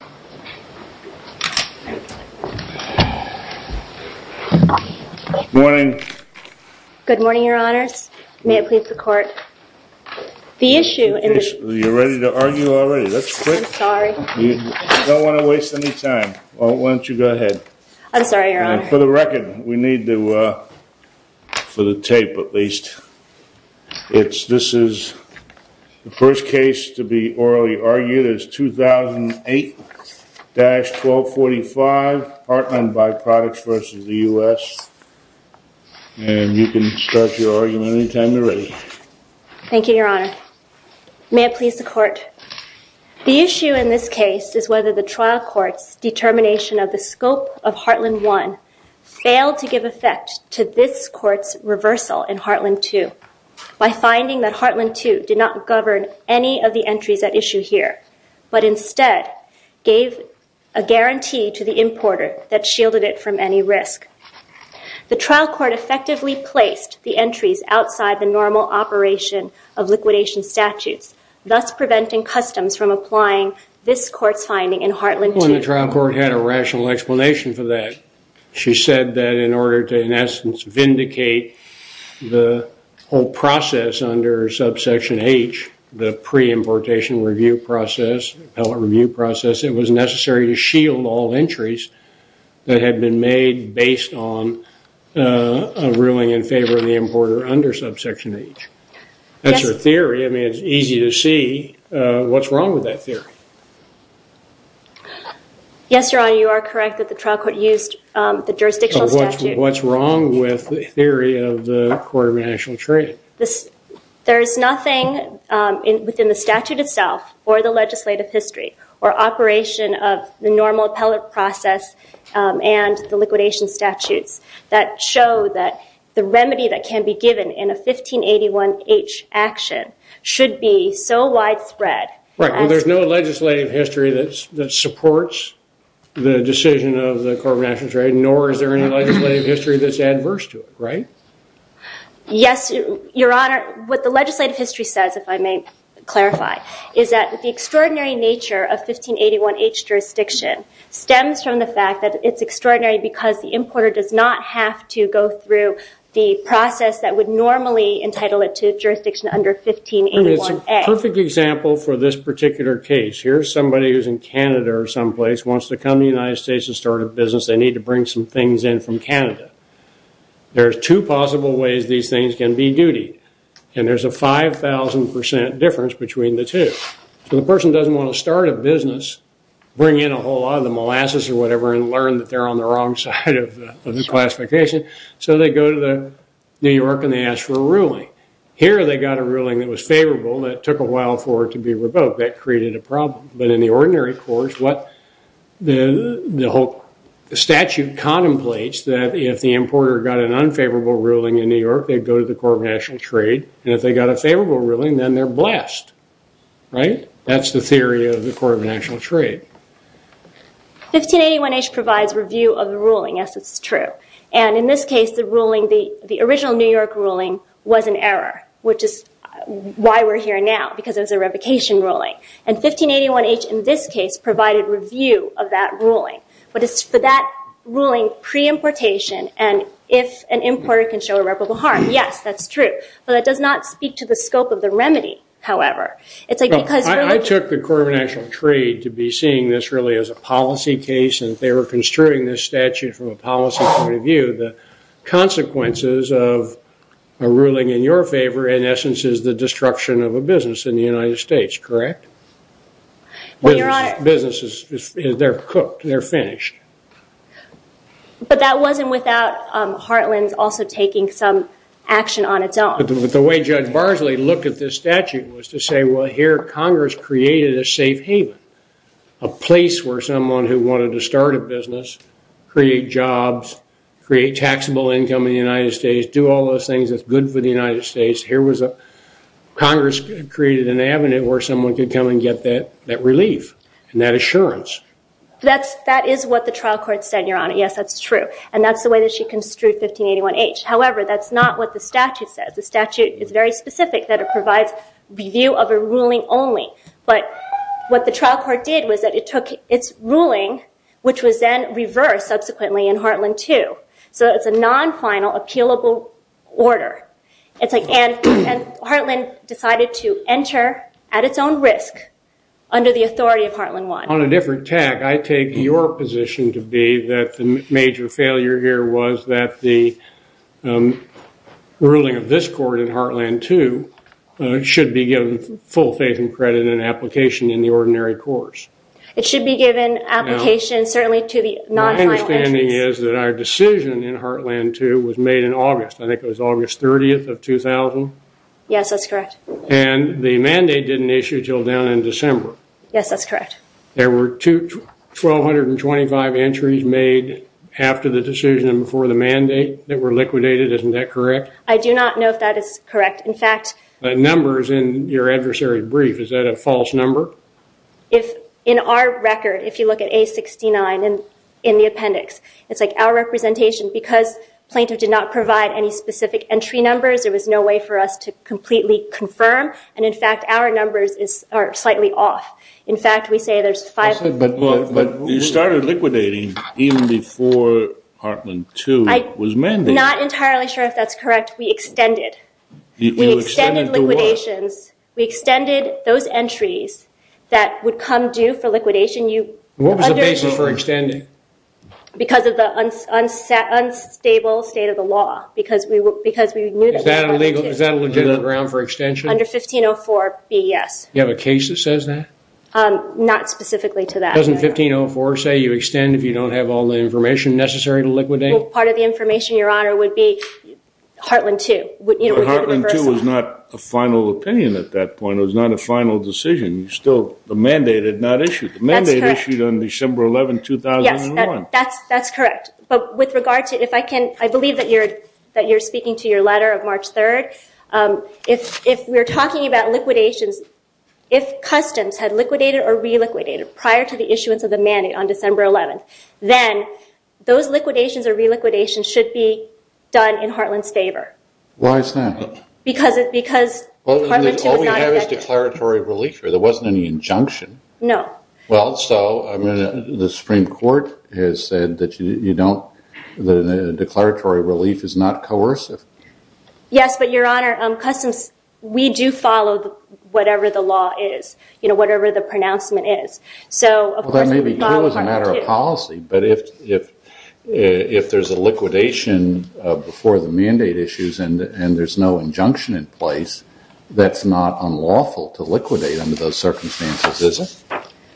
Good morning. Good morning, your honors. May it please the court. The issue in this case... You're ready to argue already? That's quick. I'm sorry. You don't want to waste any time. Why don't you go ahead. I'm sorry, your honor. For the record, we need to, uh... for the tape at least, it's... this is... The first case to be orally argued is 2008-1245, Heartland By-Products v. the U.S. And you can start your argument any time you're ready. Thank you, your honor. May it please the court. The issue in this case is whether the trial court's determination of the scope of Heartland 1 failed to give effect to this court's reversal in Heartland 2 by finding that Heartland 2 did not govern any of the entries at issue here, but instead gave a guarantee to the importer that shielded it from any risk. The trial court effectively placed the entries outside the normal operation of liquidation statutes, thus preventing customs from applying this court's finding in Heartland 2. The trial court had a rational explanation for that. She said that in order to, in essence, vindicate the whole process under subsection H, the pre-importation review process, appellate review process, it was necessary to shield all entries that had been made based on a ruling in favor of the importer under subsection H. That's her theory. I mean, it's easy to see what's wrong with that theory. Yes, your honor, you are correct that the trial court used the jurisdictional statute. What's wrong with the theory of the Court of International Trade? There's nothing within the statute itself or the legislative history or operation of the normal appellate process and the liquidation statutes that show that the remedy that can be given in a 1581H action should be so widespread. Right, well, there's no legislative history that supports the decision of the Court of International Trade, nor is there any legislative history that's adverse to it, right? Yes, your honor, what the legislative history says, if I may clarify, is that the extraordinary nature of 1581H jurisdiction stems from the fact that it's extraordinary because the importer does not have to go through the process that would normally entitle it to jurisdiction under 1581H. It's a perfect example for this particular case. Here's somebody who's in Canada or someplace, wants to come to the United States to start a business. They need to bring some things in from Canada. There's two possible ways these things can be dutied, and there's a 5,000% difference between the two. So the person doesn't want to start a business, bring in a whole lot of the molasses or whatever, and learn that they're on the wrong side of the classification, so they go to New York and they ask for a ruling. Here they got a ruling that was favorable, and it took a while for it to be revoked. That created a problem. But in the ordinary courts, what the whole statute contemplates, that if the importer got an unfavorable ruling in New York, they'd go to the Court of National Trade, and if they got a favorable ruling, then they're blessed, right? That's the theory of the Court of National Trade. 1581H provides review of the ruling, yes, it's true. And in this case, the original New York ruling was an error, which is why we're here now, because it was a revocation ruling. And 1581H in this case provided review of that ruling. But it's for that ruling pre-importation, and if an importer can show irreparable harm, yes, that's true. But it does not speak to the scope of the remedy, however. I took the Court of National Trade to be seeing this really as a policy case, and they were construing this statute from a policy point of view. The consequences of a ruling in your favor, in essence, is the destruction of a business in the United States, correct? Businesses, they're cooked, they're finished. But that wasn't without Heartland also taking some action on its own. The way Judge Barsley looked at this statute was to say, well, here Congress created a safe haven, a place where someone who wanted to start a business, create jobs, create taxable income in the United States, do all those things that's good for the United States. Congress created an avenue where someone could come and get that relief and that assurance. That is what the trial court said, Your Honor, yes, that's true. And that's the way that she construed 1581H. However, that's not what the statute says. The statute is very specific that it provides review of a ruling only. But what the trial court did was that it took its ruling, which was then reversed subsequently in Heartland 2, so it's a non-final appealable order. It's like Heartland decided to enter at its own risk under the authority of Heartland 1. On a different tack, I take your position to be that the major failure here was that the ruling of this court in Heartland 2 should be given full faith and credit in application in the ordinary course. It should be given application certainly to the non-final entries. My understanding is that our decision in Heartland 2 was made in August. I think it was August 30th of 2000. Yes, that's correct. And the mandate didn't issue until down in December. Yes, that's correct. There were 1225 entries made after the decision and before the mandate that were liquidated. Isn't that correct? I do not know if that is correct. The numbers in your adversary brief, is that a false number? In our record, if you look at A69 in the appendix, it's like our representation. Because plaintiff did not provide any specific entry numbers, there was no way for us to completely confirm. And in fact, our numbers are slightly off. In fact, we say there's five. But you started liquidating even before Heartland 2 was mandated. I'm not entirely sure if that's correct. We extended. We extended liquidations. We extended those entries that would come due for liquidation. What was the basis for extending? Because of the unstable state of the law. Is that a legitimate ground for extension? Under 1504B, yes. Do you have a case that says that? Not specifically to that. Doesn't 1504 say you extend if you don't have all the information necessary to liquidate? Part of the information, Your Honor, would be Heartland 2. Heartland 2 was not a final opinion at that point. It was not a final decision. The mandate had not issued. The mandate issued on December 11, 2001. Yes, that's correct. I believe that you're speaking to your letter of March 3. If we're talking about liquidations, if customs had liquidated or reliquidated prior to the issuance of the mandate on December 11, then those liquidations or reliquidations should be done in Heartland's favor. Why is that? Because Heartland 2 was not effective. All we have is declaratory relief. There wasn't any injunction. No. Well, so the Supreme Court has said that the declaratory relief is not coercive. Yes, but, Your Honor, customs, we do follow whatever the law is, whatever the pronouncement is. Well, that may be true as a matter of policy, but if there's a liquidation before the mandate issues and there's no injunction in place, that's not unlawful to liquidate under those circumstances, is it?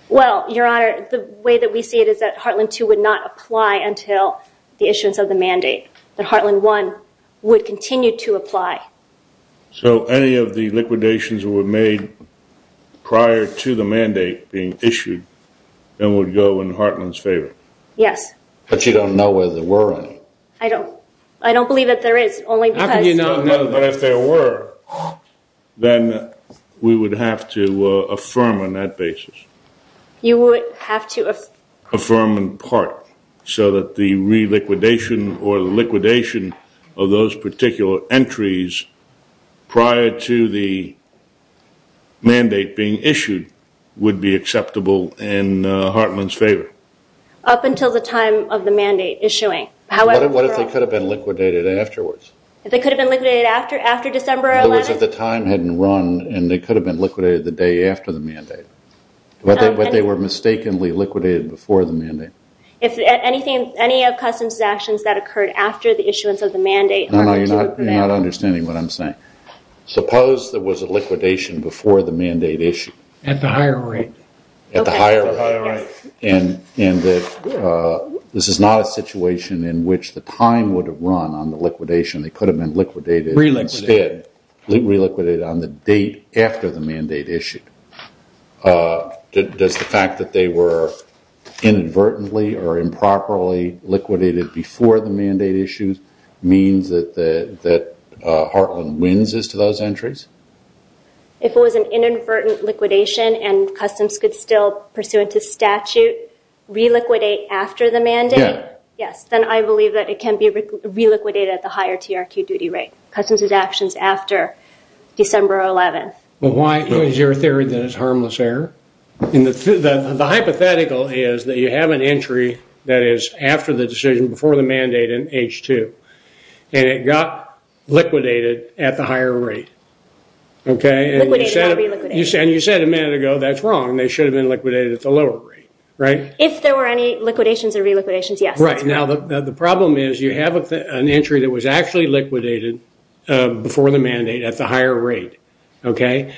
Well, Your Honor, the way that we see it is that Heartland 2 would not apply until the issuance of the mandate, that Heartland 1 would continue to apply. So any of the liquidations were made prior to the mandate being issued and would go in Heartland's favor? Yes. But you don't know whether there were any. I don't. I don't believe that there is, only because- How can you not know that? But if there were, then we would have to affirm on that basis. You would have to- prior to the mandate being issued would be acceptable in Heartland's favor? Up until the time of the mandate issuing. What if they could have been liquidated afterwards? If they could have been liquidated after December 11th? In other words, if the time hadn't run and they could have been liquidated the day after the mandate, but they were mistakenly liquidated before the mandate. If any of customs actions that occurred after the issuance of the mandate- No, no, you're not understanding what I'm saying. Suppose there was a liquidation before the mandate issue. At the higher rate. At the higher rate. And this is not a situation in which the time would have run on the liquidation. They could have been liquidated instead. Reliquidated. Reliquidated on the date after the mandate issued. Does the fact that they were inadvertently or improperly liquidated before the mandate issued means that Heartland wins as to those entries? If it was an inadvertent liquidation and customs could still, pursuant to statute, reliquidate after the mandate- Yeah. Yes. Then I believe that it can be reliquidated at the higher TRQ duty rate. Customs actions after December 11th. But why is your theory that it's harmless error? The hypothetical is that you have an entry that is after the decision before the mandate in H2. And it got liquidated at the higher rate. Liquidated or reliquidated. And you said a minute ago, that's wrong. They should have been liquidated at the lower rate. If there were any liquidations or reliquidations, yes, that's right. Now, the problem is you have an entry that was actually liquidated before the mandate at the higher rate. Okay?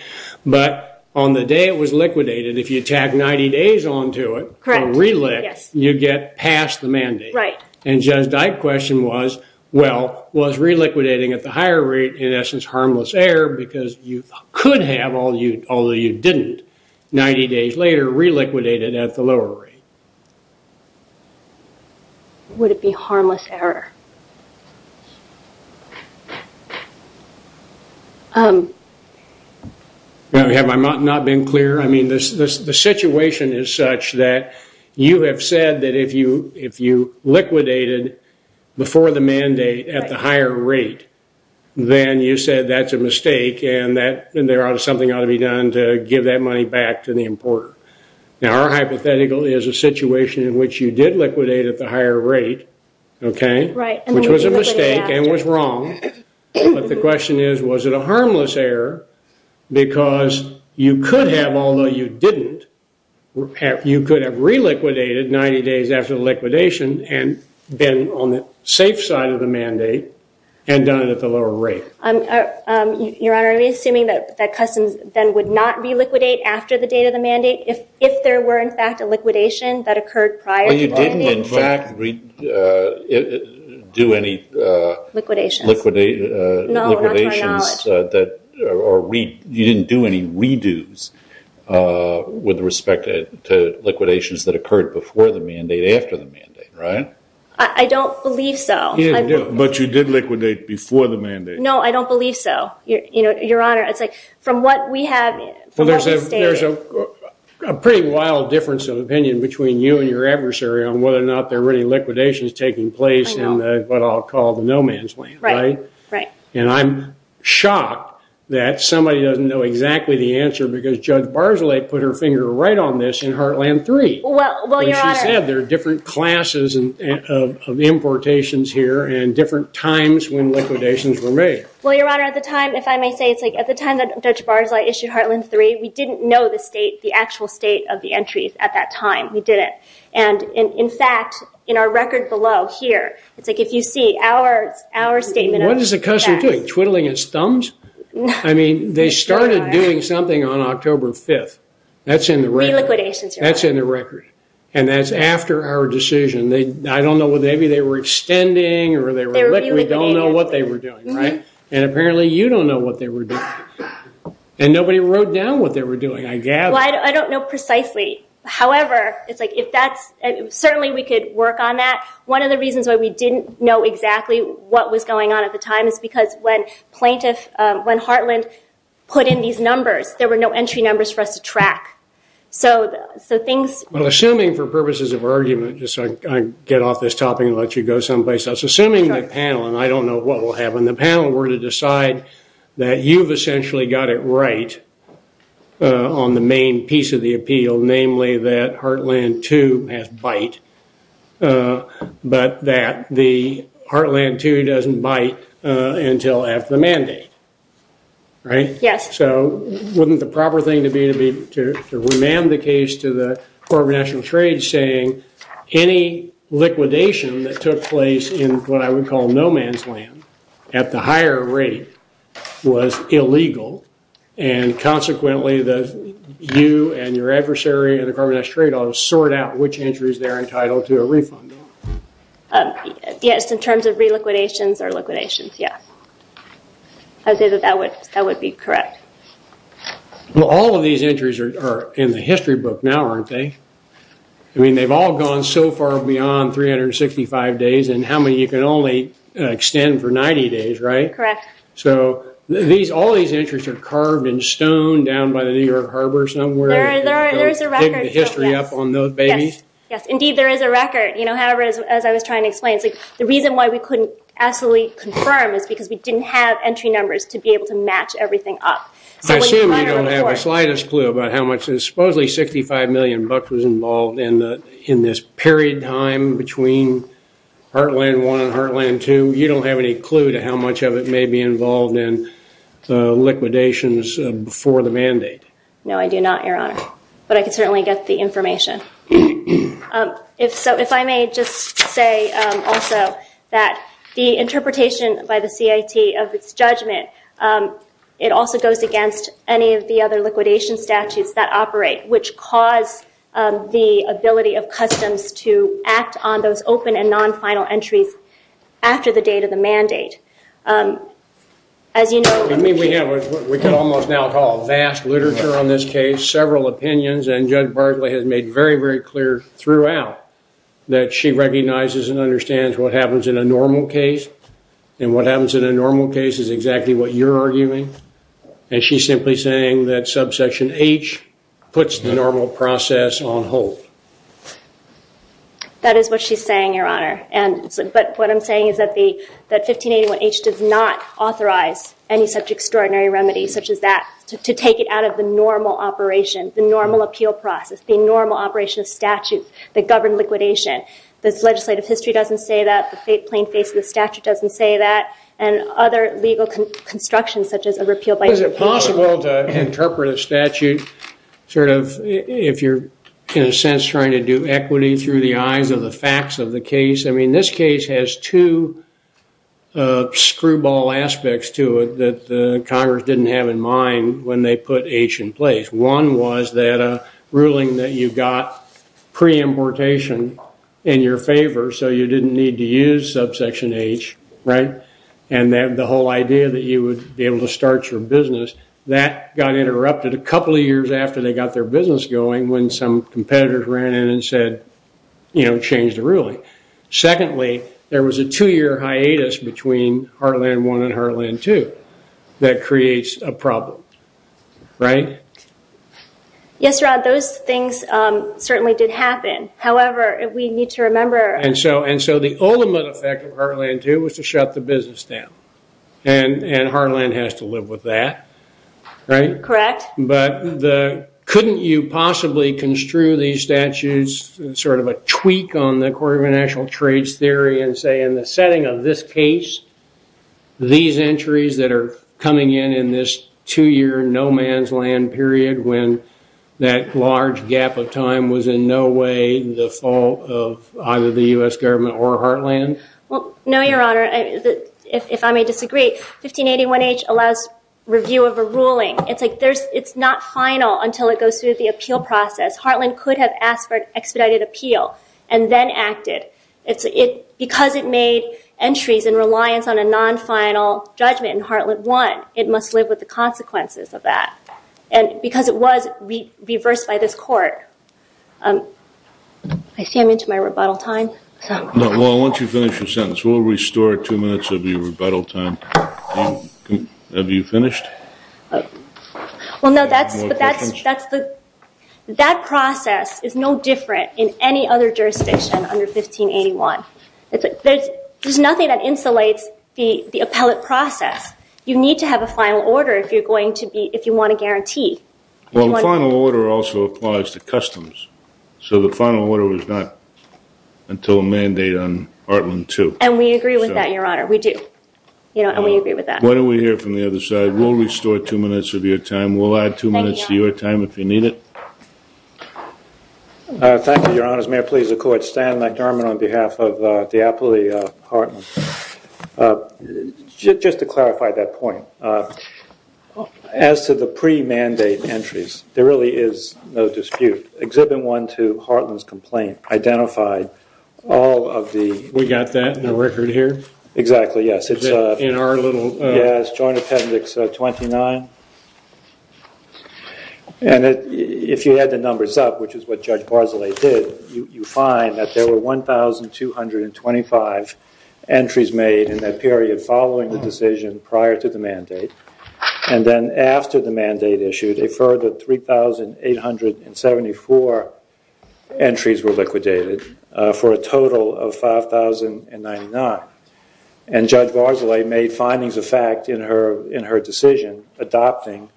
But on the day it was liquidated, if you tag 90 days onto it- Correct. Yes. You get past the mandate. Right. And Judge Dyke's question was, well, was reliquidating at the higher rate in essence harmless error because you could have, although you didn't, 90 days later, reliquidated at the lower rate? Would it be harmless error? Have I not been clear? I mean, the situation is such that you have said that if you liquidated before the mandate at the higher rate, then you said that's a mistake and something ought to be done to give that money back to the importer. Now, our hypothetical is a situation in which you did liquidate at the higher rate. Okay? Right. Which was a mistake and was wrong. But the question is, was it a harmless error? Because you could have, although you didn't, you could have reliquidated 90 days after the liquidation and been on the safe side of the mandate and done it at the lower rate. Your Honor, are you assuming that customs then would not reliquidate after the date of the mandate if there were, in fact, a liquidation that occurred prior to the mandate? Well, you didn't, in fact, do any liquidations or you didn't do any redos with respect to liquidations that occurred before the mandate after the mandate, right? I don't believe so. But you did liquidate before the mandate. No, I don't believe so, Your Honor. Well, there's a pretty wild difference of opinion between you and your adversary on whether or not there were any liquidations taking place in what I'll call the no man's land, right? Right. And I'm shocked that somebody doesn't know exactly the answer because Judge Barzilay put her finger right on this in Heartland 3. Well, Your Honor. And she said there are different classes of importations here and different times when liquidations were made. Well, Your Honor, at the time, if I may say, it's like at the time that Judge Barzilay issued Heartland 3, we didn't know the actual state of the entries at that time. We didn't. And, in fact, in our record below here, it's like if you see our statement. What is the customs doing? Twiddling its thumbs? I mean, they started doing something on October 5th. That's in the record. Reliquidations, Your Honor. That's in the record. And that's after our decision. I don't know, maybe they were extending or they were liquidating. I don't know what they were doing, right? And apparently you don't know what they were doing. And nobody wrote down what they were doing, I gather. Well, I don't know precisely. However, it's like if that's – certainly we could work on that. One of the reasons why we didn't know exactly what was going on at the time is because when Heartland put in these numbers, there were no entry numbers for us to track. So things – Well, assuming for purposes of argument, just so I get off this topic and let you go someplace else, assuming the panel – and I don't know what we'll have on the panel – were to decide that you've essentially got it right on the main piece of the appeal, namely that Heartland 2 has bite, but that the Heartland 2 doesn't bite until after the mandate, right? Yes. So wouldn't the proper thing to be to remand the case to the Corporation of National Trade any liquidation that took place in what I would call no-man's land at the higher rate was illegal, and consequently you and your adversary at the Carbon Dioxide Trade Office sort out which entries they're entitled to a refund on? Yes, in terms of re-liquidations or liquidations, yes. I would say that that would be correct. Well, all of these entries are in the history book now, aren't they? I mean, they've all gone so far beyond 365 days, and how many you can only extend for 90 days, right? Correct. So all these entries are carved in stone down by the New York Harbor somewhere? There is a record. To dig the history up on those babies? Yes, indeed there is a record. However, as I was trying to explain, the reason why we couldn't absolutely confirm is because we didn't have entry numbers to be able to match everything up. I assume you don't have the slightest clue about how much, supposedly $65 million was involved in this period time between Heartland I and Heartland II. You don't have any clue to how much of it may be involved in liquidations before the mandate? No, I do not, Your Honor, but I can certainly get the information. If so, if I may just say also that the interpretation by the CIT of its judgment, it also goes against any of the other liquidation statutes that operate, which cause the ability of customs to act on those open and non-final entries after the date of the mandate. I mean, we have what we could almost now call vast literature on this case, several opinions, and Judge Bartley has made very, very clear throughout that she recognizes and understands what happens in a normal case, and what happens in a normal case is exactly what you're arguing, and she's simply saying that subsection H puts the normal process on hold. That is what she's saying, Your Honor, but what I'm saying is that 1581H does not authorize any such extraordinary remedy such as that to take it out of the normal operation, the normal appeal process, the normal operation of statute that governed liquidation. The legislative history doesn't say that, the plain face of the statute doesn't say that, and other legal constructions such as a repeal by... Is it possible to interpret a statute sort of if you're in a sense trying to do equity through the eyes of the facts of the case? I mean, this case has two screwball aspects to it that Congress didn't have in mind when they put H in place. One was that ruling that you got pre-importation in your favor, so you didn't need to use subsection H, right? And the whole idea that you would be able to start your business, that got interrupted a couple of years after they got their business going when some competitors ran in and said, you know, change the ruling. Secondly, there was a two-year hiatus between Heartland I and Heartland II that creates a problem, right? Yes, Rod, those things certainly did happen. However, we need to remember... And so the ultimate effect of Heartland II was to shut the business down, and Heartland has to live with that, right? Correct. But couldn't you possibly construe these statutes, sort of a tweak on the Court of International Trades theory, and say in the setting of this case, these entries that are coming in in this two-year no man's land period when that large gap of time was in no way the fault of either the U.S. government or Heartland? No, Your Honor, if I may disagree, 1581H allows review of a ruling. It's not final until it goes through the appeal process. Heartland could have asked for expedited appeal and then acted. Because it made entries in reliance on a non-final judgment in Heartland I, it must live with the consequences of that. And because it was reversed by this Court. I see I'm into my rebuttal time. No, well, once you finish your sentence, we'll restore two minutes of your rebuttal time. Have you finished? Well, no, that process is no different in any other jurisdiction under 1581. There's nothing that insulates the appellate process. You need to have a final order if you want a guarantee. Well, the final order also applies to customs. So the final order was not until a mandate on Heartland II. And we agree with that, Your Honor. We do. And we agree with that. Why don't we hear from the other side? We'll restore two minutes of your time. We'll add two minutes to your time if you need it. Thank you, Your Honors. May I please accord Stan McDermott on behalf of Diapoli Heartland? Just to clarify that point, as to the pre-mandate entries, there really is no dispute. Exhibit I to Heartland's complaint identified all of the We got that in the record here? Exactly, yes. In our little... Yes, Joint Appendix 29. And if you add the numbers up, which is what Judge Barzilay did, you find that there were 1,225 entries made in that period following the decision prior to the mandate. And then after the mandate issued, a further 3,874 entries were liquidated for a total of 5,099. And Judge Barzilay made findings of fact in her decision adopting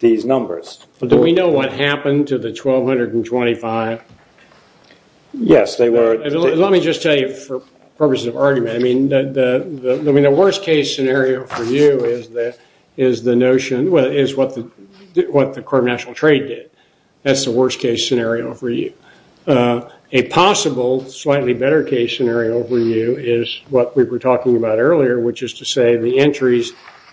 these numbers. Do we know what happened to the 1,225? Yes, they were... Let me just tell you for purposes of argument, I mean, the worst case scenario for you is the notion, is what the Corp of National Trade did. That's the worst case scenario for you. A possible slightly better case scenario for you is what we were talking about earlier, which is to say the entries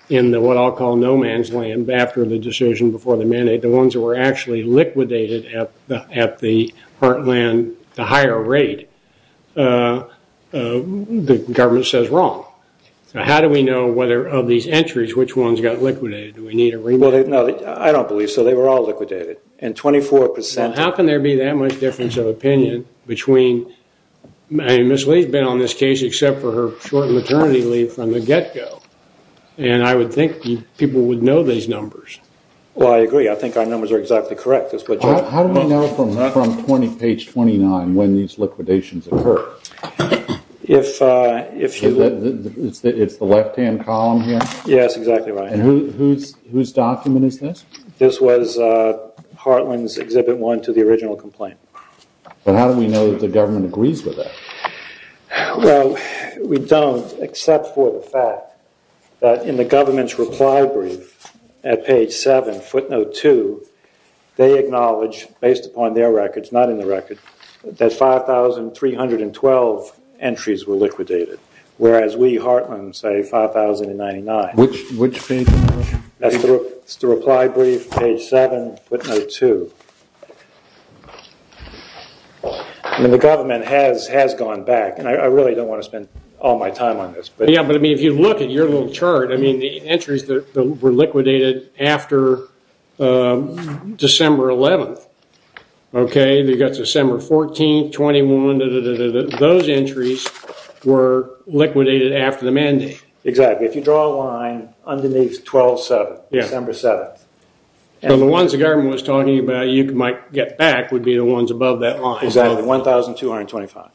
in what I'll call no man's land after the decision before the mandate, the ones that were actually liquidated at the Heartland, the higher rate, the government says wrong. So how do we know whether of these entries, which ones got liquidated? Do we need a remit? No, I don't believe so. They were all liquidated. And 24%... There's a difference of opinion between... Ms. Lee's been on this case except for her short maternity leave from the get-go. And I would think people would know these numbers. Well, I agree. I think our numbers are exactly correct. How do we know from page 29 when these liquidations occurred? If you... It's the left-hand column here? Yes, exactly right. And whose document is this? This was Heartland's Exhibit 1 to the original complaint. But how do we know that the government agrees with that? Well, we don't except for the fact that in the government's reply brief at page 7, footnote 2, they acknowledge, based upon their records, not in the record, that 5,312 entries were liquidated, whereas we, Heartland, say 5,099. Which page? That's the reply brief, page 7, footnote 2. I mean, the government has gone back. And I really don't want to spend all my time on this. Yeah, but, I mean, if you look at your little chart, I mean, the entries that were liquidated after December 11th, okay, you've got December 14th, 21, those entries were liquidated after the mandate. Exactly, if you draw a line underneath December 7th. So the ones the government was talking about you might get back would be the ones above that line. Exactly, 1,225.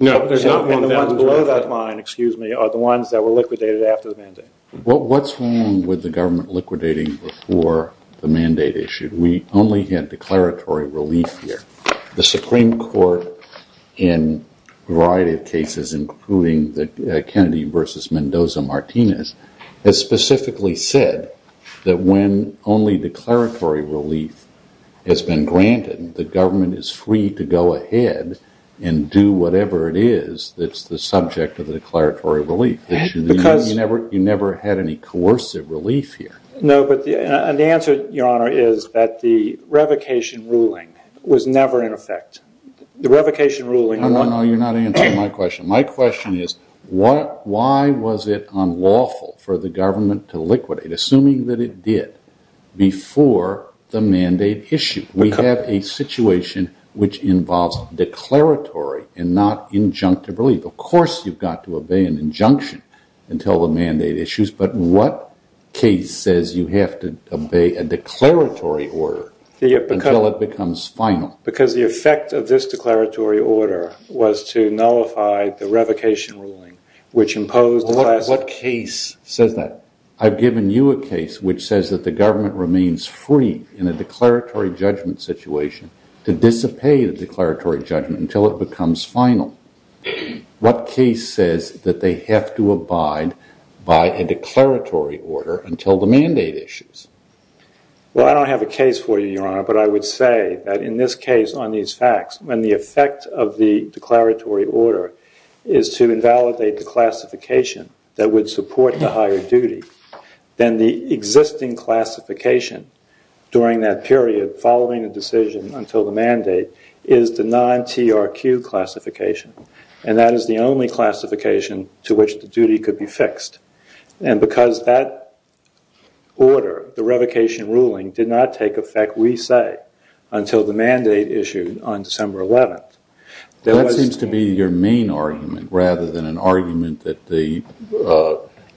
No, there's not 1,225. And the ones below that line, excuse me, are the ones that were liquidated after the mandate. Well, what's wrong with the government liquidating before the mandate issue? We only had declaratory relief here. The Supreme Court, in a variety of cases, including Kennedy versus Mendoza-Martinez, has specifically said that when only declaratory relief has been granted, the government is free to go ahead and do whatever it is that's the subject of the declaratory relief. You never had any coercive relief here. No, but the answer, Your Honor, is that the revocation ruling was never in effect. No, no, you're not answering my question. My question is why was it unlawful for the government to liquidate, assuming that it did, before the mandate issue? We have a situation which involves declaratory and not injunctive relief. Of course you've got to obey an injunction until the mandate issues, but what case says you have to obey a declaratory order until it becomes final? Because the effect of this declaratory order was to nullify the revocation ruling, which imposed... What case says that? I've given you a case which says that the government remains free, in a declaratory judgment situation, to disobey the declaratory judgment until it becomes final. What case says that they have to abide by a declaratory order until the mandate issues? Well, I don't have a case for you, Your Honor, but I would say that in this case on these facts, when the effect of the declaratory order is to invalidate the classification that would support the higher duty, then the existing classification during that period, following the decision until the mandate, is the non-TRQ classification, and that is the only classification to which the duty could be fixed. And because that order, the revocation ruling, did not take effect, we say, until the mandate issue on December 11th. That seems to be your main argument, rather than an argument that the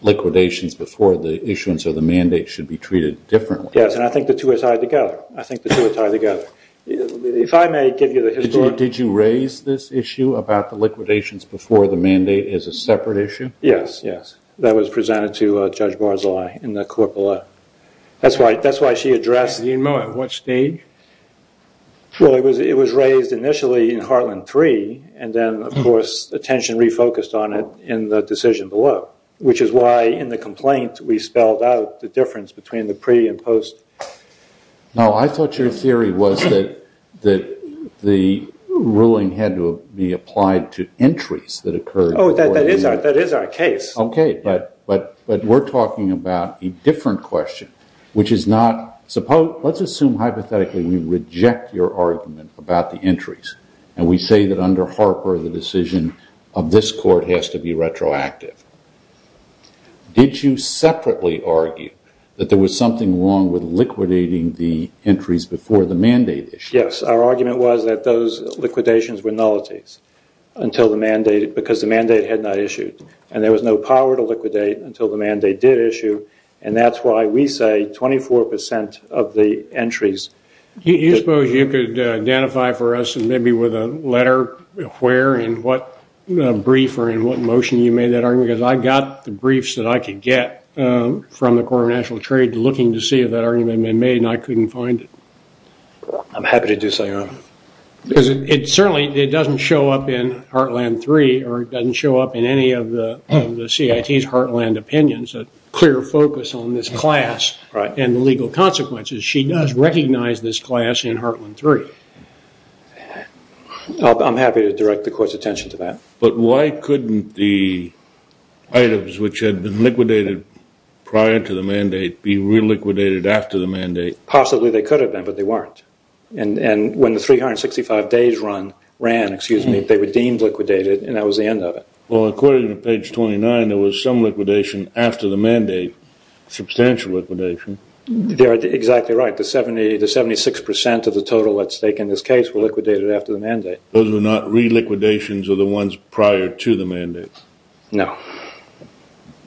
liquidations before the issuance of the mandate should be treated differently. Yes, and I think the two are tied together. I think the two are tied together. If I may give you the historical... Did you raise this issue about the liquidations before the mandate as a separate issue? Yes, yes. That was presented to Judge Barzilai in the court below. That's why she addressed... Do you know at what stage? Well, it was raised initially in Heartland 3, and then, of course, attention refocused on it in the decision below, which is why in the complaint we spelled out the difference between the pre and post. No, I thought your theory was that the ruling had to be applied to entries that occurred... Oh, that is our case. Okay, but we're talking about a different question, which is not... Let's assume, hypothetically, we reject your argument about the entries, and we say that under Harper, the decision of this court has to be retroactive. Did you separately argue that there was something wrong with liquidating the entries before the mandate issue? Yes, our argument was that those liquidations were nullities because the mandate had not issued, and there was no power to liquidate until the mandate did issue, and that's why we say 24% of the entries... Do you suppose you could identify for us, maybe with a letter, where and what brief or in what motion you made that argument? Because I got the briefs that I could get from the Corps of National Trade looking to see if that argument had been made, and I couldn't find it. I'm happy to do so, Your Honor. It certainly doesn't show up in Heartland 3, or it doesn't show up in any of the CIT's Heartland opinions, a clear focus on this class and the legal consequences. She does recognize this class in Heartland 3. I'm happy to direct the court's attention to that. But why couldn't the items which had been liquidated prior to the mandate be reliquidated after the mandate? Possibly they could have been, but they weren't. And when the 365 days run, ran, excuse me, they were deemed liquidated, and that was the end of it. Well, according to page 29, there was some liquidation after the mandate, substantial liquidation. You're exactly right. The 76% of the total at stake in this case were liquidated after the mandate. Those were not reliquidations of the ones prior to the mandate? No.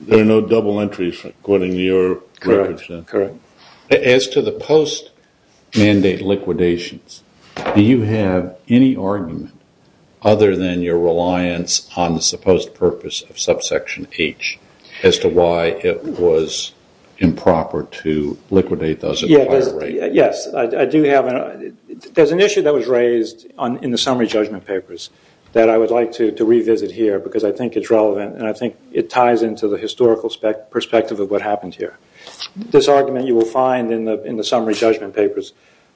There are no double entries, according to your records? Correct. As to the post-mandate liquidations, do you have any argument, other than your reliance on the supposed purpose of subsection H, as to why it was improper to liquidate those at a higher rate? Yes, I do have. There's an issue that was raised in the summary judgment papers that I would like to revisit here, because I think it's relevant, and I think it ties into the historical perspective of what happened here. This argument you will find in the summary judgment papers,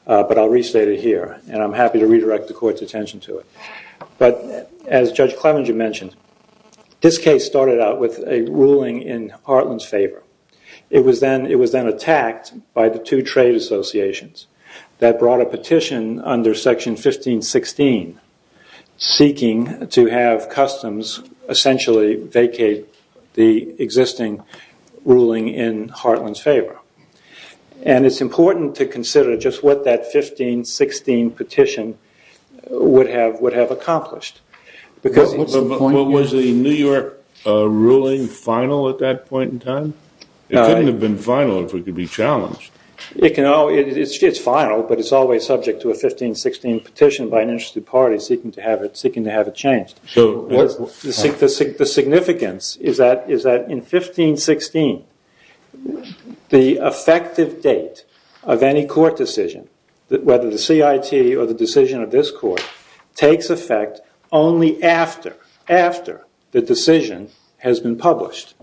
but I'll restate it here, and I'm happy to redirect the court's attention to it. But as Judge Clevenger mentioned, this case started out with a ruling in Heartland's favor. It was then attacked by the two trade associations that brought a petition under Section 1516 seeking to have customs essentially vacate the existing ruling in Heartland's favor. And it's important to consider just what that 1516 petition would have accomplished. But was the New York ruling final at that point in time? It couldn't have been final if it could be challenged. It's final, but it's always subject to a 1516 petition by an interested party seeking to have it changed. The significance is that in 1516, the effective date of any court decision, whether the CIT or the decision of this court, takes effect only after the decision has been published.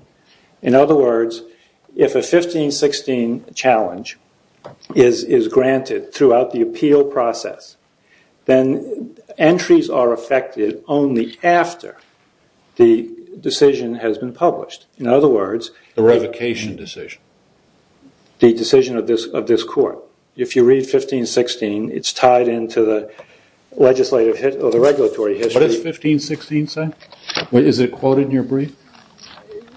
In other words, if a 1516 challenge is granted throughout the appeal process, then entries are affected only after the decision has been published. In other words... The revocation decision. The decision of this court. If you read 1516, it's tied into the regulatory history. What does 1516 say? Is it quoted in your brief?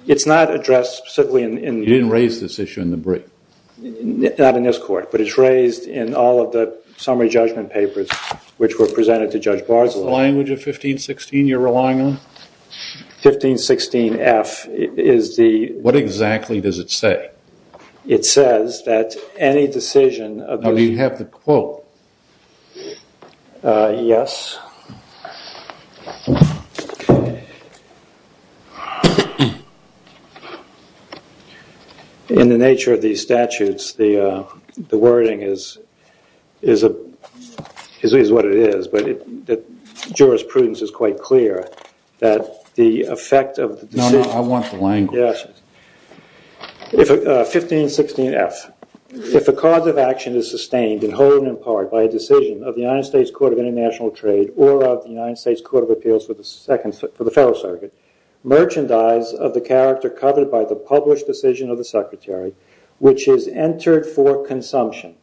It's not addressed specifically in... You didn't raise this issue in the brief. Not in this court, but it's raised in all of the summary judgment papers which were presented to Judge Barzilaw. Is it the language of 1516 you're relying on? 1516-F is the... What exactly does it say? It says that any decision... Do you have the quote? Yes. In the nature of these statutes, the wording is what it is, but the jurisprudence is quite clear that the effect of the decision... No, no, I want the language. Yes. 1516-F. If a cause of action is sustained in whole and in part by a decision of the United States Court of International Trade or of the United States Court of Appeals for the Federal Circuit, merchandise of the character covered by the published decision of the Secretary, which is entered for consumption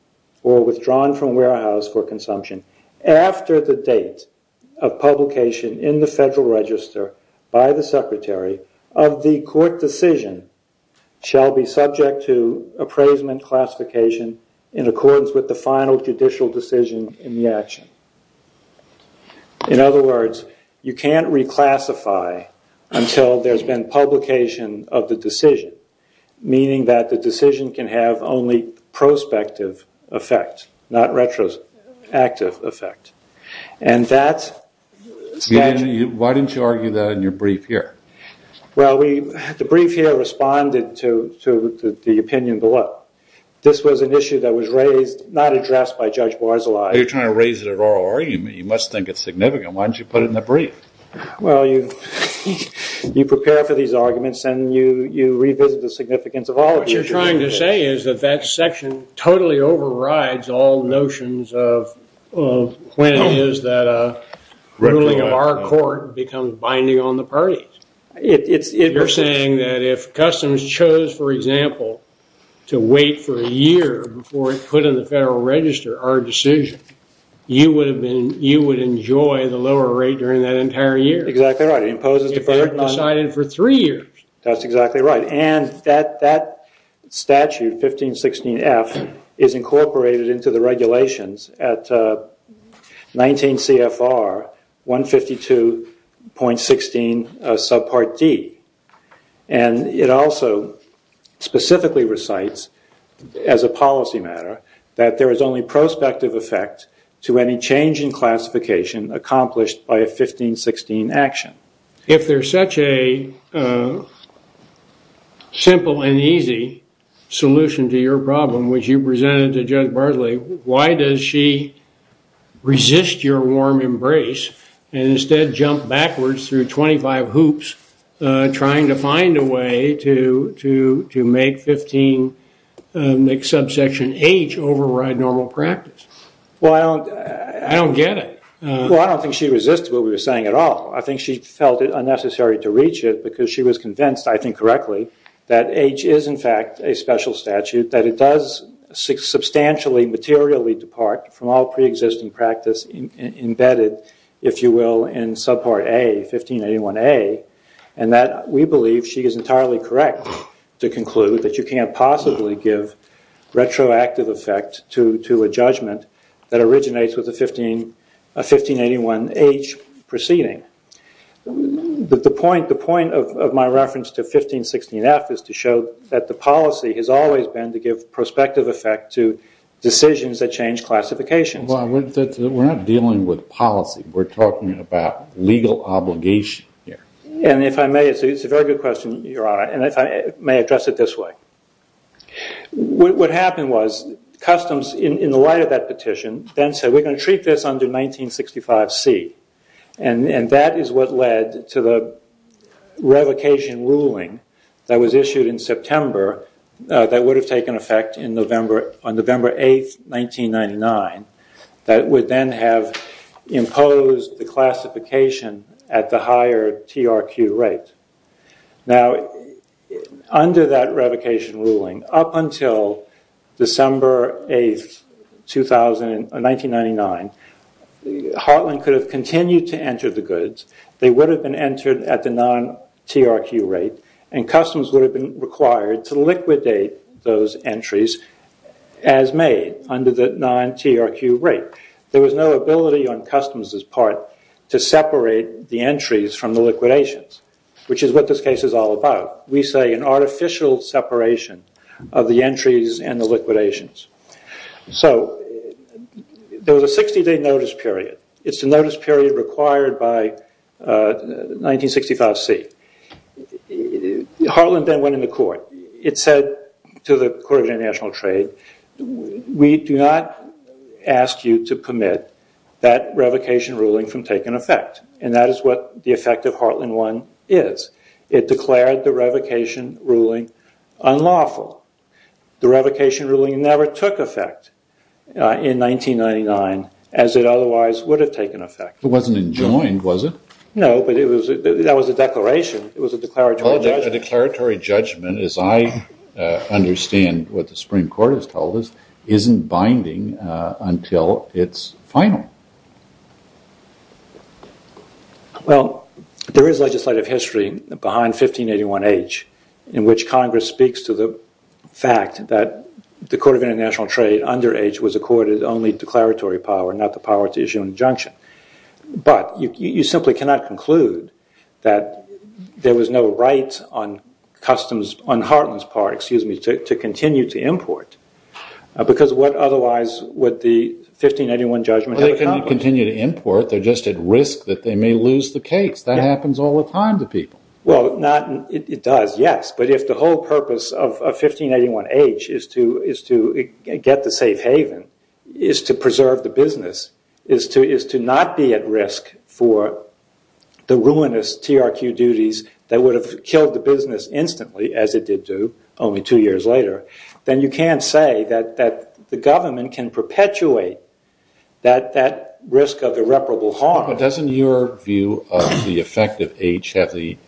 or withdrawn from warehouse for consumption after the date of publication in the Federal Register by the Secretary of the court decision shall be subject to appraisement classification in accordance with the final judicial decision in the action. In other words, you can't reclassify until there's been publication of the decision, meaning that the decision can have only prospective effect, not retroactive effect. And that's... Why didn't you argue that in your brief here? Well, the brief here responded to the opinion below. This was an issue that was raised, not addressed by Judge Barzilay. You're trying to raise it at oral argument. You must think it's significant. Why don't you put it in the brief? What you're trying to say is that that section totally overrides all notions of when it is that ruling of our court becomes binding on the parties. You're saying that if Customs chose, for example, to wait for a year before it's put in the Federal Register, our decision, you would enjoy the lower rate during that entire year. Exactly right. It imposes deferred... If they had decided for three years. That's exactly right. And that statute, 1516F, is incorporated into the regulations at 19 CFR 152.16 subpart D. And it also specifically recites, as a policy matter, that there is only prospective effect to any change in classification accomplished by a 1516 action. If there's such a simple and easy solution to your problem, which you presented to Judge Barzilay, why does she resist your warm embrace and instead jump backwards through 25 hoops trying to find a way to make 15... make subsection H override normal practice? Well, I don't... I don't get it. Well, I don't think she resists what we were saying at all. I think she felt it unnecessary to reach it because she was convinced, I think correctly, that H is, in fact, a special statute, that it does substantially materially depart from all preexisting practice embedded, if you will, in subpart A, 1581A, and that we believe she is entirely correct to conclude that you can't possibly give retroactive effect to a judgment that originates with a 1581H proceeding. The point of my reference to 1516F is to show that the policy has always been to give prospective effect to decisions that change classifications. Well, we're not dealing with policy. We're talking about legal obligation here. And if I may, it's a very good question, Your Honor, and if I may address it this way. What happened was Customs, in the light of that petition, then said we're going to treat this under 1965C, and that is what led to the revocation ruling that was issued in September that would have taken effect on November 8, 1999, that would then have imposed the classification at the higher TRQ rate. Now, under that revocation ruling, up until December 8, 1999, Heartland could have continued to enter the goods. They would have been entered at the non-TRQ rate, and Customs would have been required to liquidate those entries as made under the non-TRQ rate. There was no ability on Customs' part to separate the entries from the liquidations, which is what this case is all about. We say an artificial separation of the entries and the liquidations. So there was a 60-day notice period. It's the notice period required by 1965C. Heartland then went into court. It said to the Court of International Trade, we do not ask you to permit that revocation ruling from taking effect, and that is what the effect of Heartland 1 is. It declared the revocation ruling unlawful. The revocation ruling never took effect in 1999 as it otherwise would have taken effect. It wasn't enjoined, was it? No, but that was a declaration. It was a declaratory judgment. As I understand what the Supreme Court has told us, it isn't binding until it's final. Well, there is legislative history behind 1581H in which Congress speaks to the fact that the Court of International Trade under H was accorded only declaratory power, but you simply cannot conclude that there was no right on Heartland's part to continue to import, because what otherwise would the 1581 judgment have accomplished? Well, they couldn't continue to import. They're just at risk that they may lose the case. That happens all the time to people. Well, it does, yes, but if the whole purpose of 1581H is to get the safe haven, is to preserve the business, is to not be at risk for the ruinous TRQ duties that would have killed the business instantly, as it did do only two years later, then you can't say that the government can perpetuate that risk of irreparable harm. But doesn't your view of the effect of H have the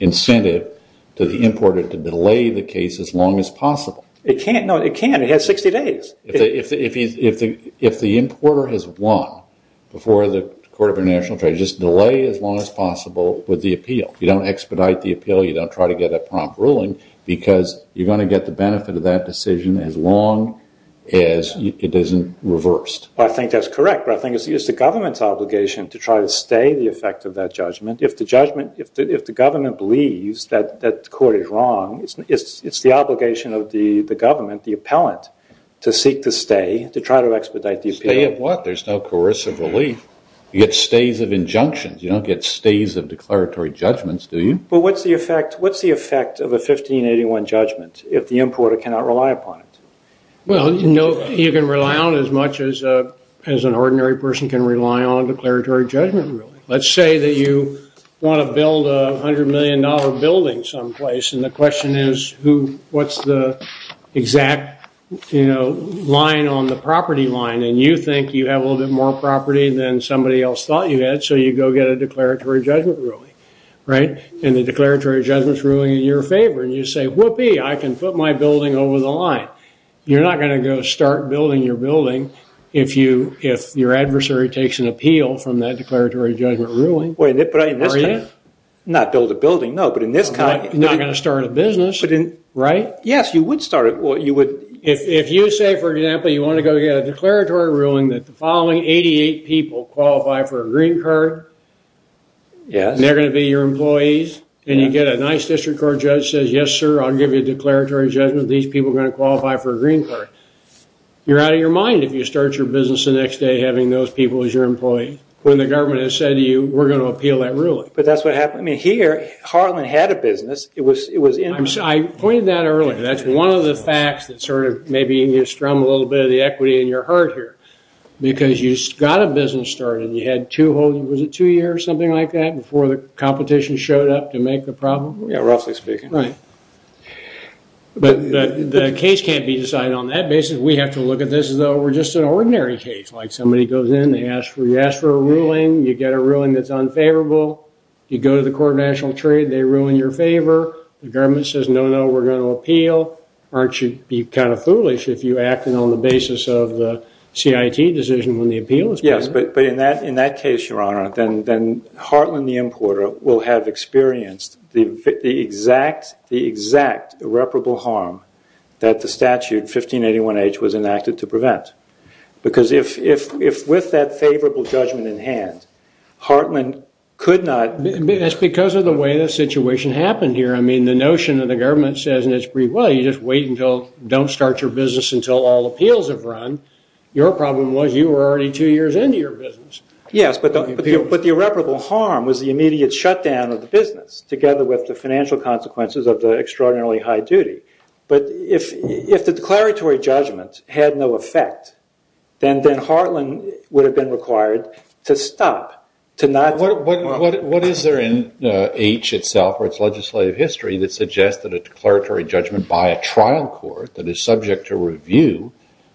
incentive to the importer to delay the case as long as possible? It can't. No, it can't. It has 60 days. If the importer has won before the Court of International Trade, just delay as long as possible with the appeal. You don't expedite the appeal. You don't try to get a prompt ruling, because you're going to get the benefit of that decision as long as it isn't reversed. Well, I think that's correct, but I think it's the government's obligation to try to stay the effect of that judgment. If the government believes that the court is wrong, it's the obligation of the government, the appellant, to seek to stay, to try to expedite the appeal. Stay of what? There's no coercive relief. You get stays of injunctions. You don't get stays of declaratory judgments, do you? But what's the effect of a 1581 judgment if the importer cannot rely upon it? Well, you can rely on it as much as an ordinary person can rely on a declaratory judgment, really. Let's say that you want to build a $100 million building someplace, and the question is, what's the exact line on the property line? And you think you have a little bit more property than somebody else thought you had, so you go get a declaratory judgment ruling, right? And the declaratory judgment's ruling in your favor, and you say, whoopee, I can put my building over the line. You're not going to go start building your building if your adversary takes an appeal from that declaratory judgment ruling. Are you? Not build a building, no, but in this context. You're not going to start a business, right? Yes, you would start it. If you say, for example, you want to go get a declaratory ruling that the following 88 people qualify for a green card, and they're going to be your employees, and you get a nice district court judge who says, yes, sir, I'll give you a declaratory judgment, these people are going to qualify for a green card, you're out of your mind if you start your business the next day having those people as your employees. When the government has said to you, we're going to appeal that ruling. But that's what happened. I mean, here, Harlan had a business. I pointed that out earlier. That's one of the facts that sort of maybe can strum a little bit of the equity in your heart here, because you got a business started, and you had two whole, was it two years, something like that, before the competition showed up to make the problem? Yeah, roughly speaking. Right. But the case can't be decided on that basis. We have to look at this as though we're just an ordinary case, like somebody goes in, you ask for a ruling, you get a ruling that's unfavorable, you go to the Court of National Trade, they ruin your favor, the government says, no, no, we're going to appeal. Aren't you kind of foolish if you act on the basis of the CIT decision when the appeal is presented? Yes, but in that case, Your Honor, then Harlan the importer will have experienced the exact irreparable harm that the statute 1581H was enacted to prevent. Because if with that favorable judgment in hand, Hartman could not... It's because of the way the situation happened here. I mean, the notion that the government says in its brief, well, you just wait until, don't start your business until all appeals have run. Your problem was you were already two years into your business. Yes, but the irreparable harm was the immediate shutdown of the business, together with the financial consequences of the extraordinarily high duty. But if the declaratory judgment had no effect, then Harlan would have been required to stop, to not... What is there in H itself, or its legislative history, that suggests that a declaratory judgment by a trial court that is subject to review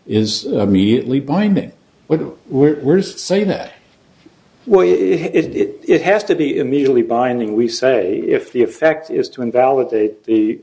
is immediately binding? Where does it say that? Well, it has to be immediately binding, we say, if the effect is to invalidate the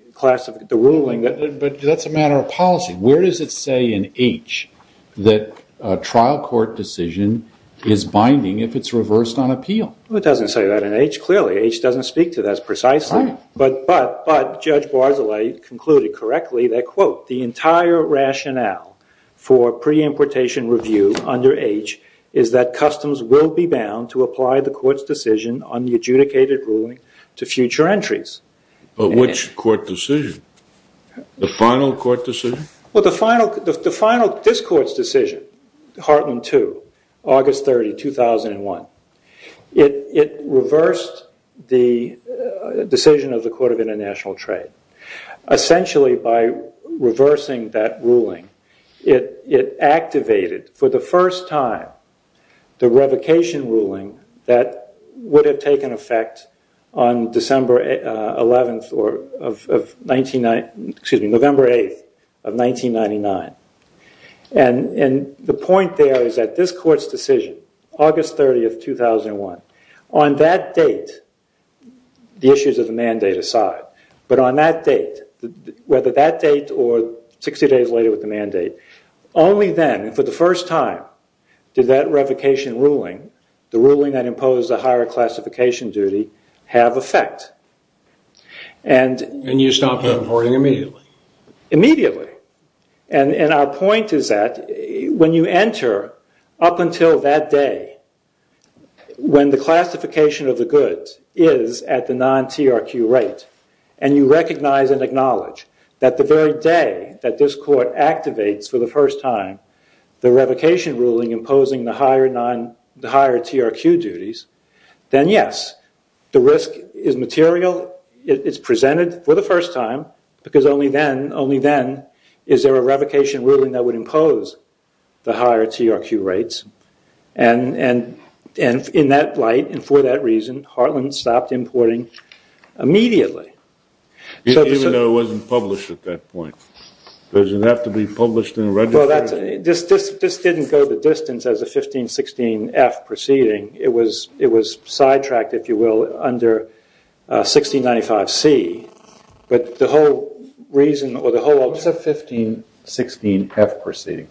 ruling. But that's a matter of policy. Where does it say in H that a trial court decision is binding if it's reversed on appeal? It doesn't say that in H, clearly. H doesn't speak to this precisely. But Judge Barzilay concluded correctly that, quote, the entire rationale for pre-importation review under H is that customs will be bound to apply the court's decision on the adjudicated ruling to future entries. But which court decision? The final court decision? Well, this court's decision, Hartland 2, August 30, 2001, it reversed the decision of the Court of International Trade. Essentially, by reversing that ruling, it activated, for the first time, the revocation ruling that would have taken effect on November 8, 1999. And the point there is that this court's decision, August 30, 2001, on that date, the issues of the mandate aside, but on that date, whether that date or 60 days later with the mandate, only then, for the first time, did that revocation ruling, the ruling that imposed a higher classification duty, have effect. And you stopped importing immediately? Immediately. And our point is that when you enter up until that day, when the classification of the goods is at the non-TRQ rate, and you recognize and acknowledge that the very day that this court activates, for the first time, the revocation ruling imposing the higher TRQ duties, then yes, the risk is material, it's presented for the first time, because only then is there a revocation ruling that would impose the higher TRQ rates. And in that light, and for that reason, Hartland stopped importing immediately. Even though it wasn't published at that point? Does it have to be published and registered? This didn't go the distance as a 1516F proceeding. It was sidetracked, if you will, under 1695C. But the whole reason, or the whole... What's a 1516F proceeding?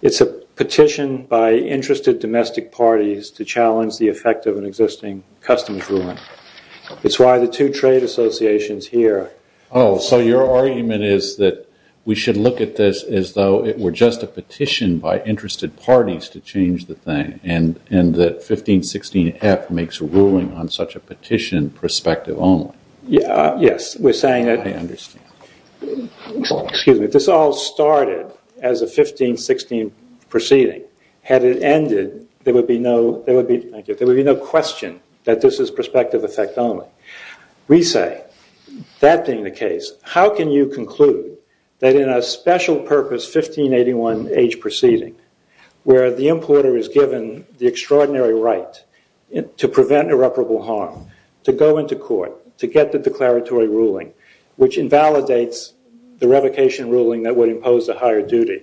It's a petition by interested domestic parties to challenge the effect of an existing customs ruling. It's why the two trade associations here... Oh, so your argument is that we should look at this as though it were just a petition by interested parties to change the thing, and that 1516F makes a ruling on such a petition prospective only. Yes, we're saying that... I understand. Excuse me. This all started as a 1516 proceeding. Had it ended, there would be no question that this is prospective effect only. We say, that being the case, how can you conclude that in a special purpose 1581H proceeding, where the importer is given the extraordinary right to prevent irreparable harm, to go into court, to get the declaratory ruling, which invalidates the revocation ruling that would impose a higher duty,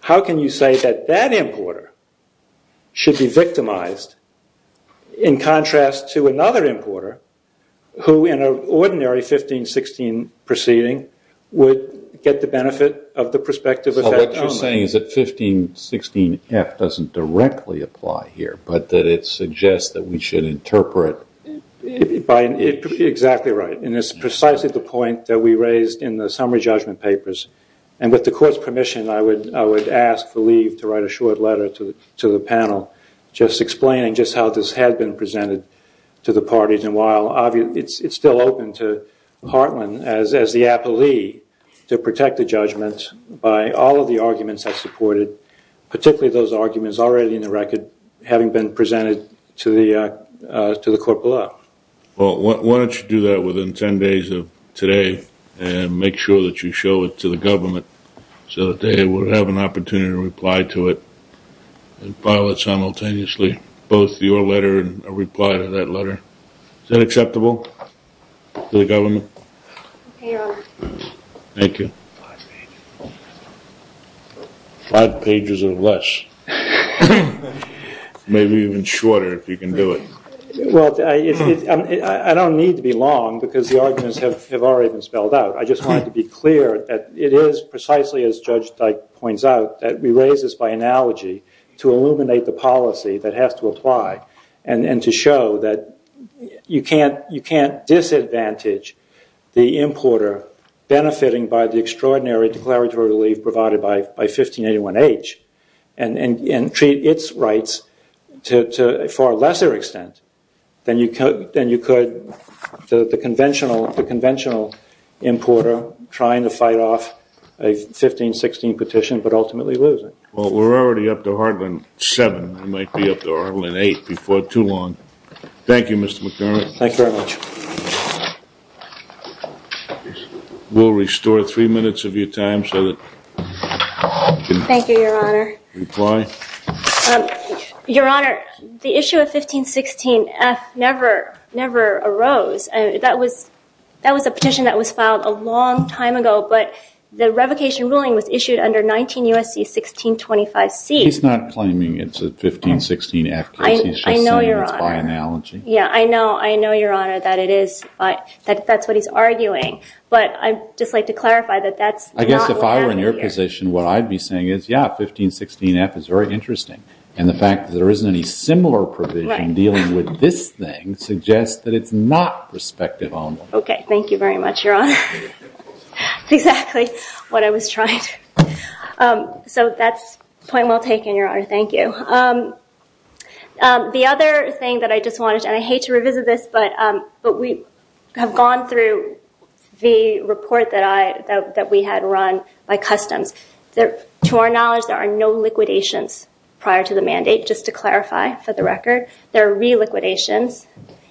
how can you say that that importer should be victimized in contrast to another importer, who in an ordinary 1516 proceeding would get the benefit of the prospective effect only? So what you're saying is that 1516F doesn't directly apply here, but that it suggests that we should interpret... Exactly right. And it's precisely the point that we raised in the summary judgment papers. And with the court's permission, I would ask for leave to write a short letter to the panel, just explaining just how this had been presented to the parties. And while it's still open to Hartland as the appellee to protect the judgment by all of the arguments that are supported, particularly those arguments already in the record having been presented to the court below. Well, why don't you do that within 10 days of today and make sure that you show it to the government so that they would have an opportunity to reply to it and file it simultaneously, both your letter and a reply to that letter. Is that acceptable to the government? Yes. Thank you. Five pages. Five pages or less. Maybe even shorter if you can do it. Well, I don't need to be long because the arguments have already been spelled out. I just wanted to be clear that it is precisely, as Judge Dyke points out, that we raise this by analogy to illuminate the policy that has to apply and to show that you can't disadvantage the importer benefiting by the extraordinary declaratory relief provided by 1581H and treat its rights to a far lesser extent than you could the conventional importer trying to fight off a 1516 petition but ultimately losing. Well, we're already up to Heartland 7. We might be up to Heartland 8 before too long. Thank you, Mr. McDonough. Thank you very much. We'll restore three minutes of your time so that you can reply. Thank you, Your Honor. Your Honor, the issue of 1516F never arose. That was a petition that was filed a long time ago, but the revocation ruling was issued under 19 U.S.C. 1625C. He's not claiming it's a 1516F case. I know, Your Honor. He's just saying it's by analogy. Yeah, I know. I know, Your Honor, that that's what he's arguing. But I'd just like to clarify that that's not what happened here. I guess if I were in your position, what I'd be saying is, yeah, 1516F is very interesting. And the fact that there isn't any similar provision dealing with this thing suggests that it's not respective only. Okay. Thank you very much, Your Honor. Exactly what I was trying to do. So that's a point well taken, Your Honor. Thank you. The other thing that I just wanted to, and I hate to revisit this, but we have gone through the report that we had run by Customs. To our knowledge, there are no liquidations prior to the mandate, just to clarify for the record. There are re-liquidations.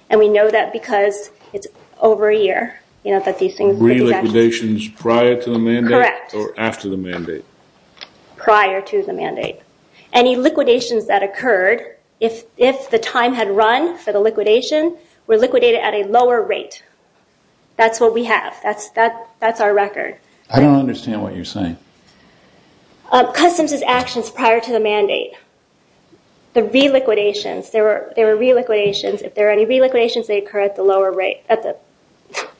And we know that because it's over a year, you know, that these things. Re-liquidations prior to the mandate? Correct. Or after the mandate? Prior to the mandate. Any liquidations that occurred, if the time had run for the liquidation, were liquidated at a lower rate. That's what we have. That's our record. I don't understand what you're saying. Customs' actions prior to the mandate, the re-liquidations. There were re-liquidations. If there were any re-liquidations, they occurred at the lower rate.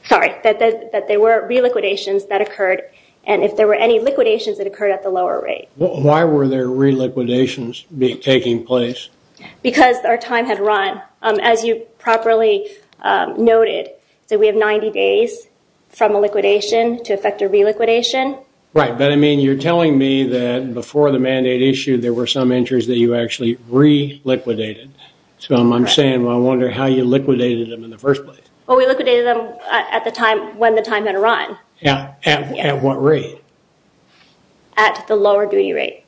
Sorry, that there were re-liquidations that occurred. And if there were any liquidations, it occurred at the lower rate. Why were there re-liquidations taking place? Because our time had run. As you properly noted, we have 90 days from a liquidation to effect a re-liquidation. Right. You're telling me that before the mandate issued, there were some injuries that you actually re-liquidated. I'm saying I wonder how you liquidated them in the first place. We liquidated them when the time had run. At what rate? At the lower duty rate.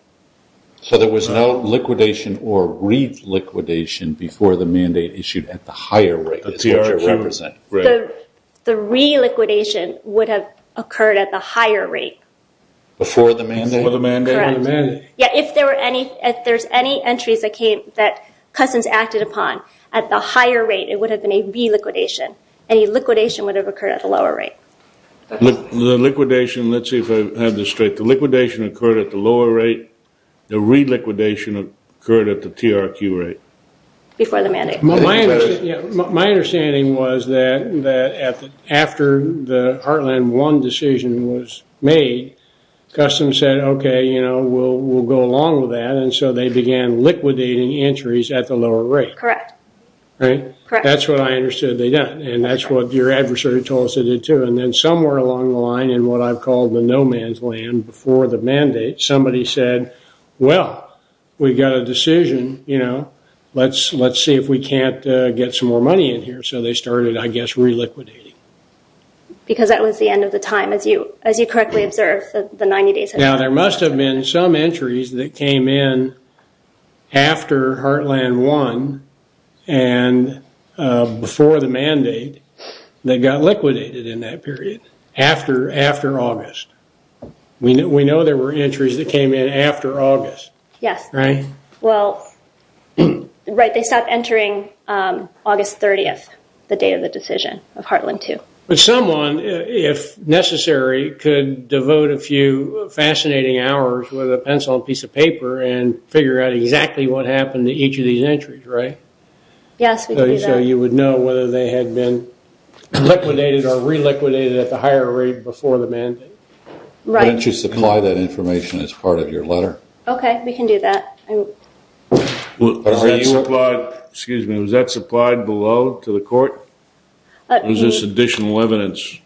So there was no liquidation or re-liquidation before the mandate issued at the higher rate. That's what you represent. The re-liquidation would have occurred at the higher rate. Before the mandate? Before the mandate. Correct. Yeah, if there's any entries that Cousins acted upon at the higher rate, it would have been a re-liquidation. Any liquidation would have occurred at the lower rate. The liquidation, let's see if I have this straight. The liquidation occurred at the lower rate. Before the mandate. My understanding was that after the Heartland 1 decision was made, Customs said, okay, we'll go along with that, and so they began liquidating entries at the lower rate. Correct. Right? Correct. That's what I understood they done, and that's what your adversary told us they did too. And then somewhere along the line in what I've called the no-man's land before the mandate, somebody said, well, we've got a decision, you know, let's see if we can't get some more money in here. So they started, I guess, re-liquidating. Because that was the end of the time, as you correctly observed, the 90 days had passed. Now, there must have been some entries that came in after Heartland 1 and before the mandate that got liquidated in that period, after August. We know there were entries that came in after August. Yes. Right? Well, right, they stopped entering August 30th, the day of the decision of Heartland 2. But someone, if necessary, could devote a few fascinating hours with a pencil and piece of paper and figure out exactly what happened to each of these entries, right? Yes, we could do that. I don't know whether they had been liquidated or re-liquidated at the higher rate before the mandate. Right. Why don't you supply that information as part of your letter? Okay, we can do that. Was that supplied below to the court? Or is this additional evidence?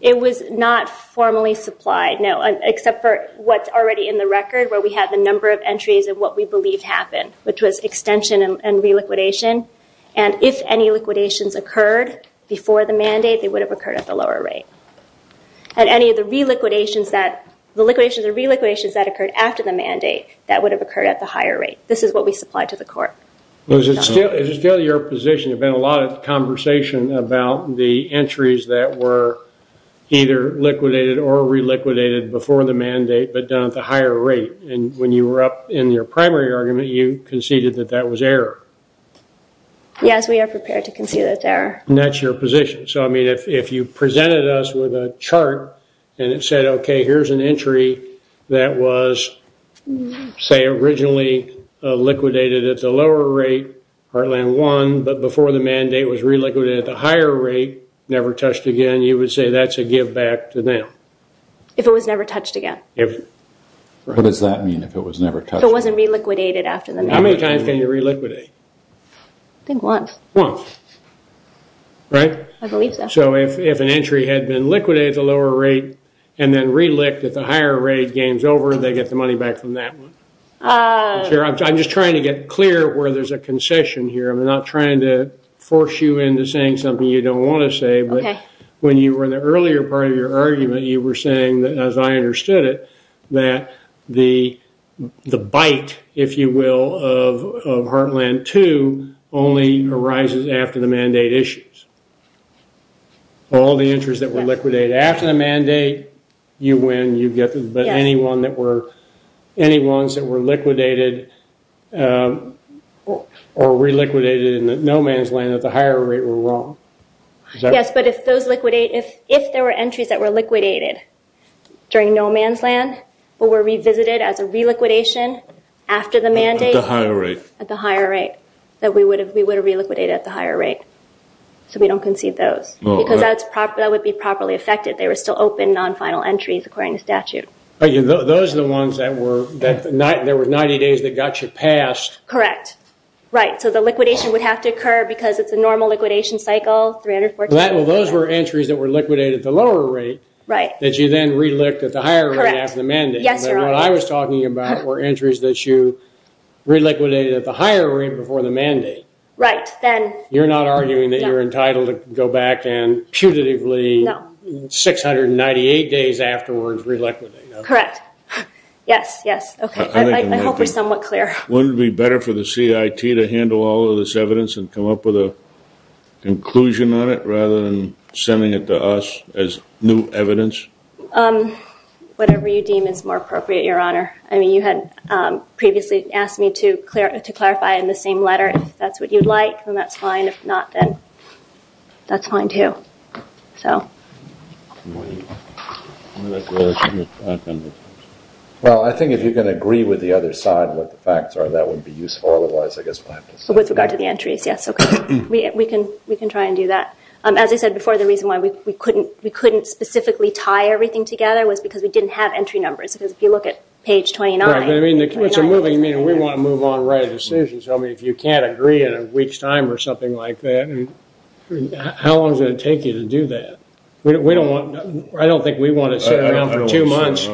It was not formally supplied, no, except for what's already in the record, where we have the number of entries of what we believe happened, which was extension and re-liquidation. And if any liquidations occurred before the mandate, they would have occurred at the lower rate. And any of the re-liquidations that occurred after the mandate, that would have occurred at the higher rate. This is what we supplied to the court. Is it still your position? There's been a lot of conversation about the entries that were either liquidated or re-liquidated before the mandate, but done at the higher rate. And when you were up in your primary argument, you conceded that that was error. Yes, we are prepared to concede that's error. And that's your position. So, I mean, if you presented us with a chart and it said, okay, here's an entry that was, say, originally liquidated at the lower rate, Heartland won, but before the mandate was re-liquidated at the higher rate, never touched again, you would say that's a give-back to them. If it was never touched again. What does that mean, if it was never touched? If it wasn't re-liquidated after the mandate. How many times can you re-liquidate? I think once. Once. Right? I believe so. So if an entry had been liquidated at the lower rate and then re-licked at the higher rate, game's over, they get the money back from that one. I'm just trying to get clear where there's a concession here. I'm not trying to force you into saying something you don't want to say, but when you were in the earlier part of your argument, you were saying, as I understood it, that the bite, if you will, of Heartland 2 only arises after the mandate issues. All the entries that were liquidated after the mandate, you win, but any ones that were liquidated or re-liquidated in no man's land at the higher rate were wrong. Yes, but if there were entries that were liquidated during no man's land but were revisited as a re-liquidation after the mandate at the higher rate, that we would have re-liquidated at the higher rate. So we don't concede those because that would be properly affected. They were still open, non-final entries, according to statute. Those are the ones that there were 90 days that got you passed. Correct. Right, so the liquidation would have to occur because it's a normal liquidation cycle. Those were entries that were liquidated at the lower rate that you then re-licked at the higher rate after the mandate. Yes, Your Honor. What I was talking about were entries that you re-liquidated at the higher rate before the mandate. Right. You're not arguing that you're entitled to go back and putatively 698 days afterwards re-liquidate. Correct. Yes, yes. I hope we're somewhat clear. Wouldn't it be better for the CIT to handle all of this evidence and come up with a conclusion on it rather than sending it to us as new evidence? Whatever you deem is more appropriate, Your Honor. I mean, you had previously asked me to clarify in the same letter. If that's what you'd like, then that's fine. If not, then that's fine too. So. Well, I think if you can agree with the other side of what the facts are, that would be useful. Otherwise, I guess we'll have to send it back. With regard to the entries, yes. Okay. We can try and do that. As I said before, the reason why we couldn't specifically tie everything together was because we didn't have entry numbers. Because if you look at page 29. Right, but I mean, we want to move on and write a decision. So if you can't agree in a week's time or something like that, how long is it going to take you to do that? I don't think we want to sit around for two months.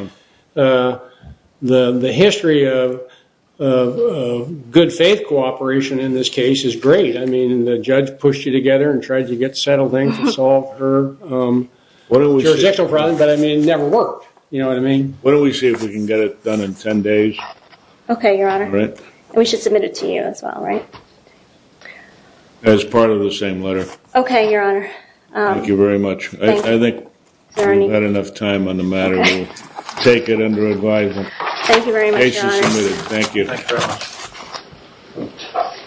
The history of good faith cooperation in this case is great. I mean, the judge pushed you together and tried to get settled in to solve her jurisdictional problem, but I mean, it never worked. You know what I mean? Why don't we see if we can get it done in 10 days? Okay, Your Honor. And we should submit it to you as well, right? As part of the same letter. Okay, Your Honor. Thank you very much. I think we've had enough time on the matter. We'll take it under advisement. Thank you very much, Your Honor. Case is submitted. Thank you.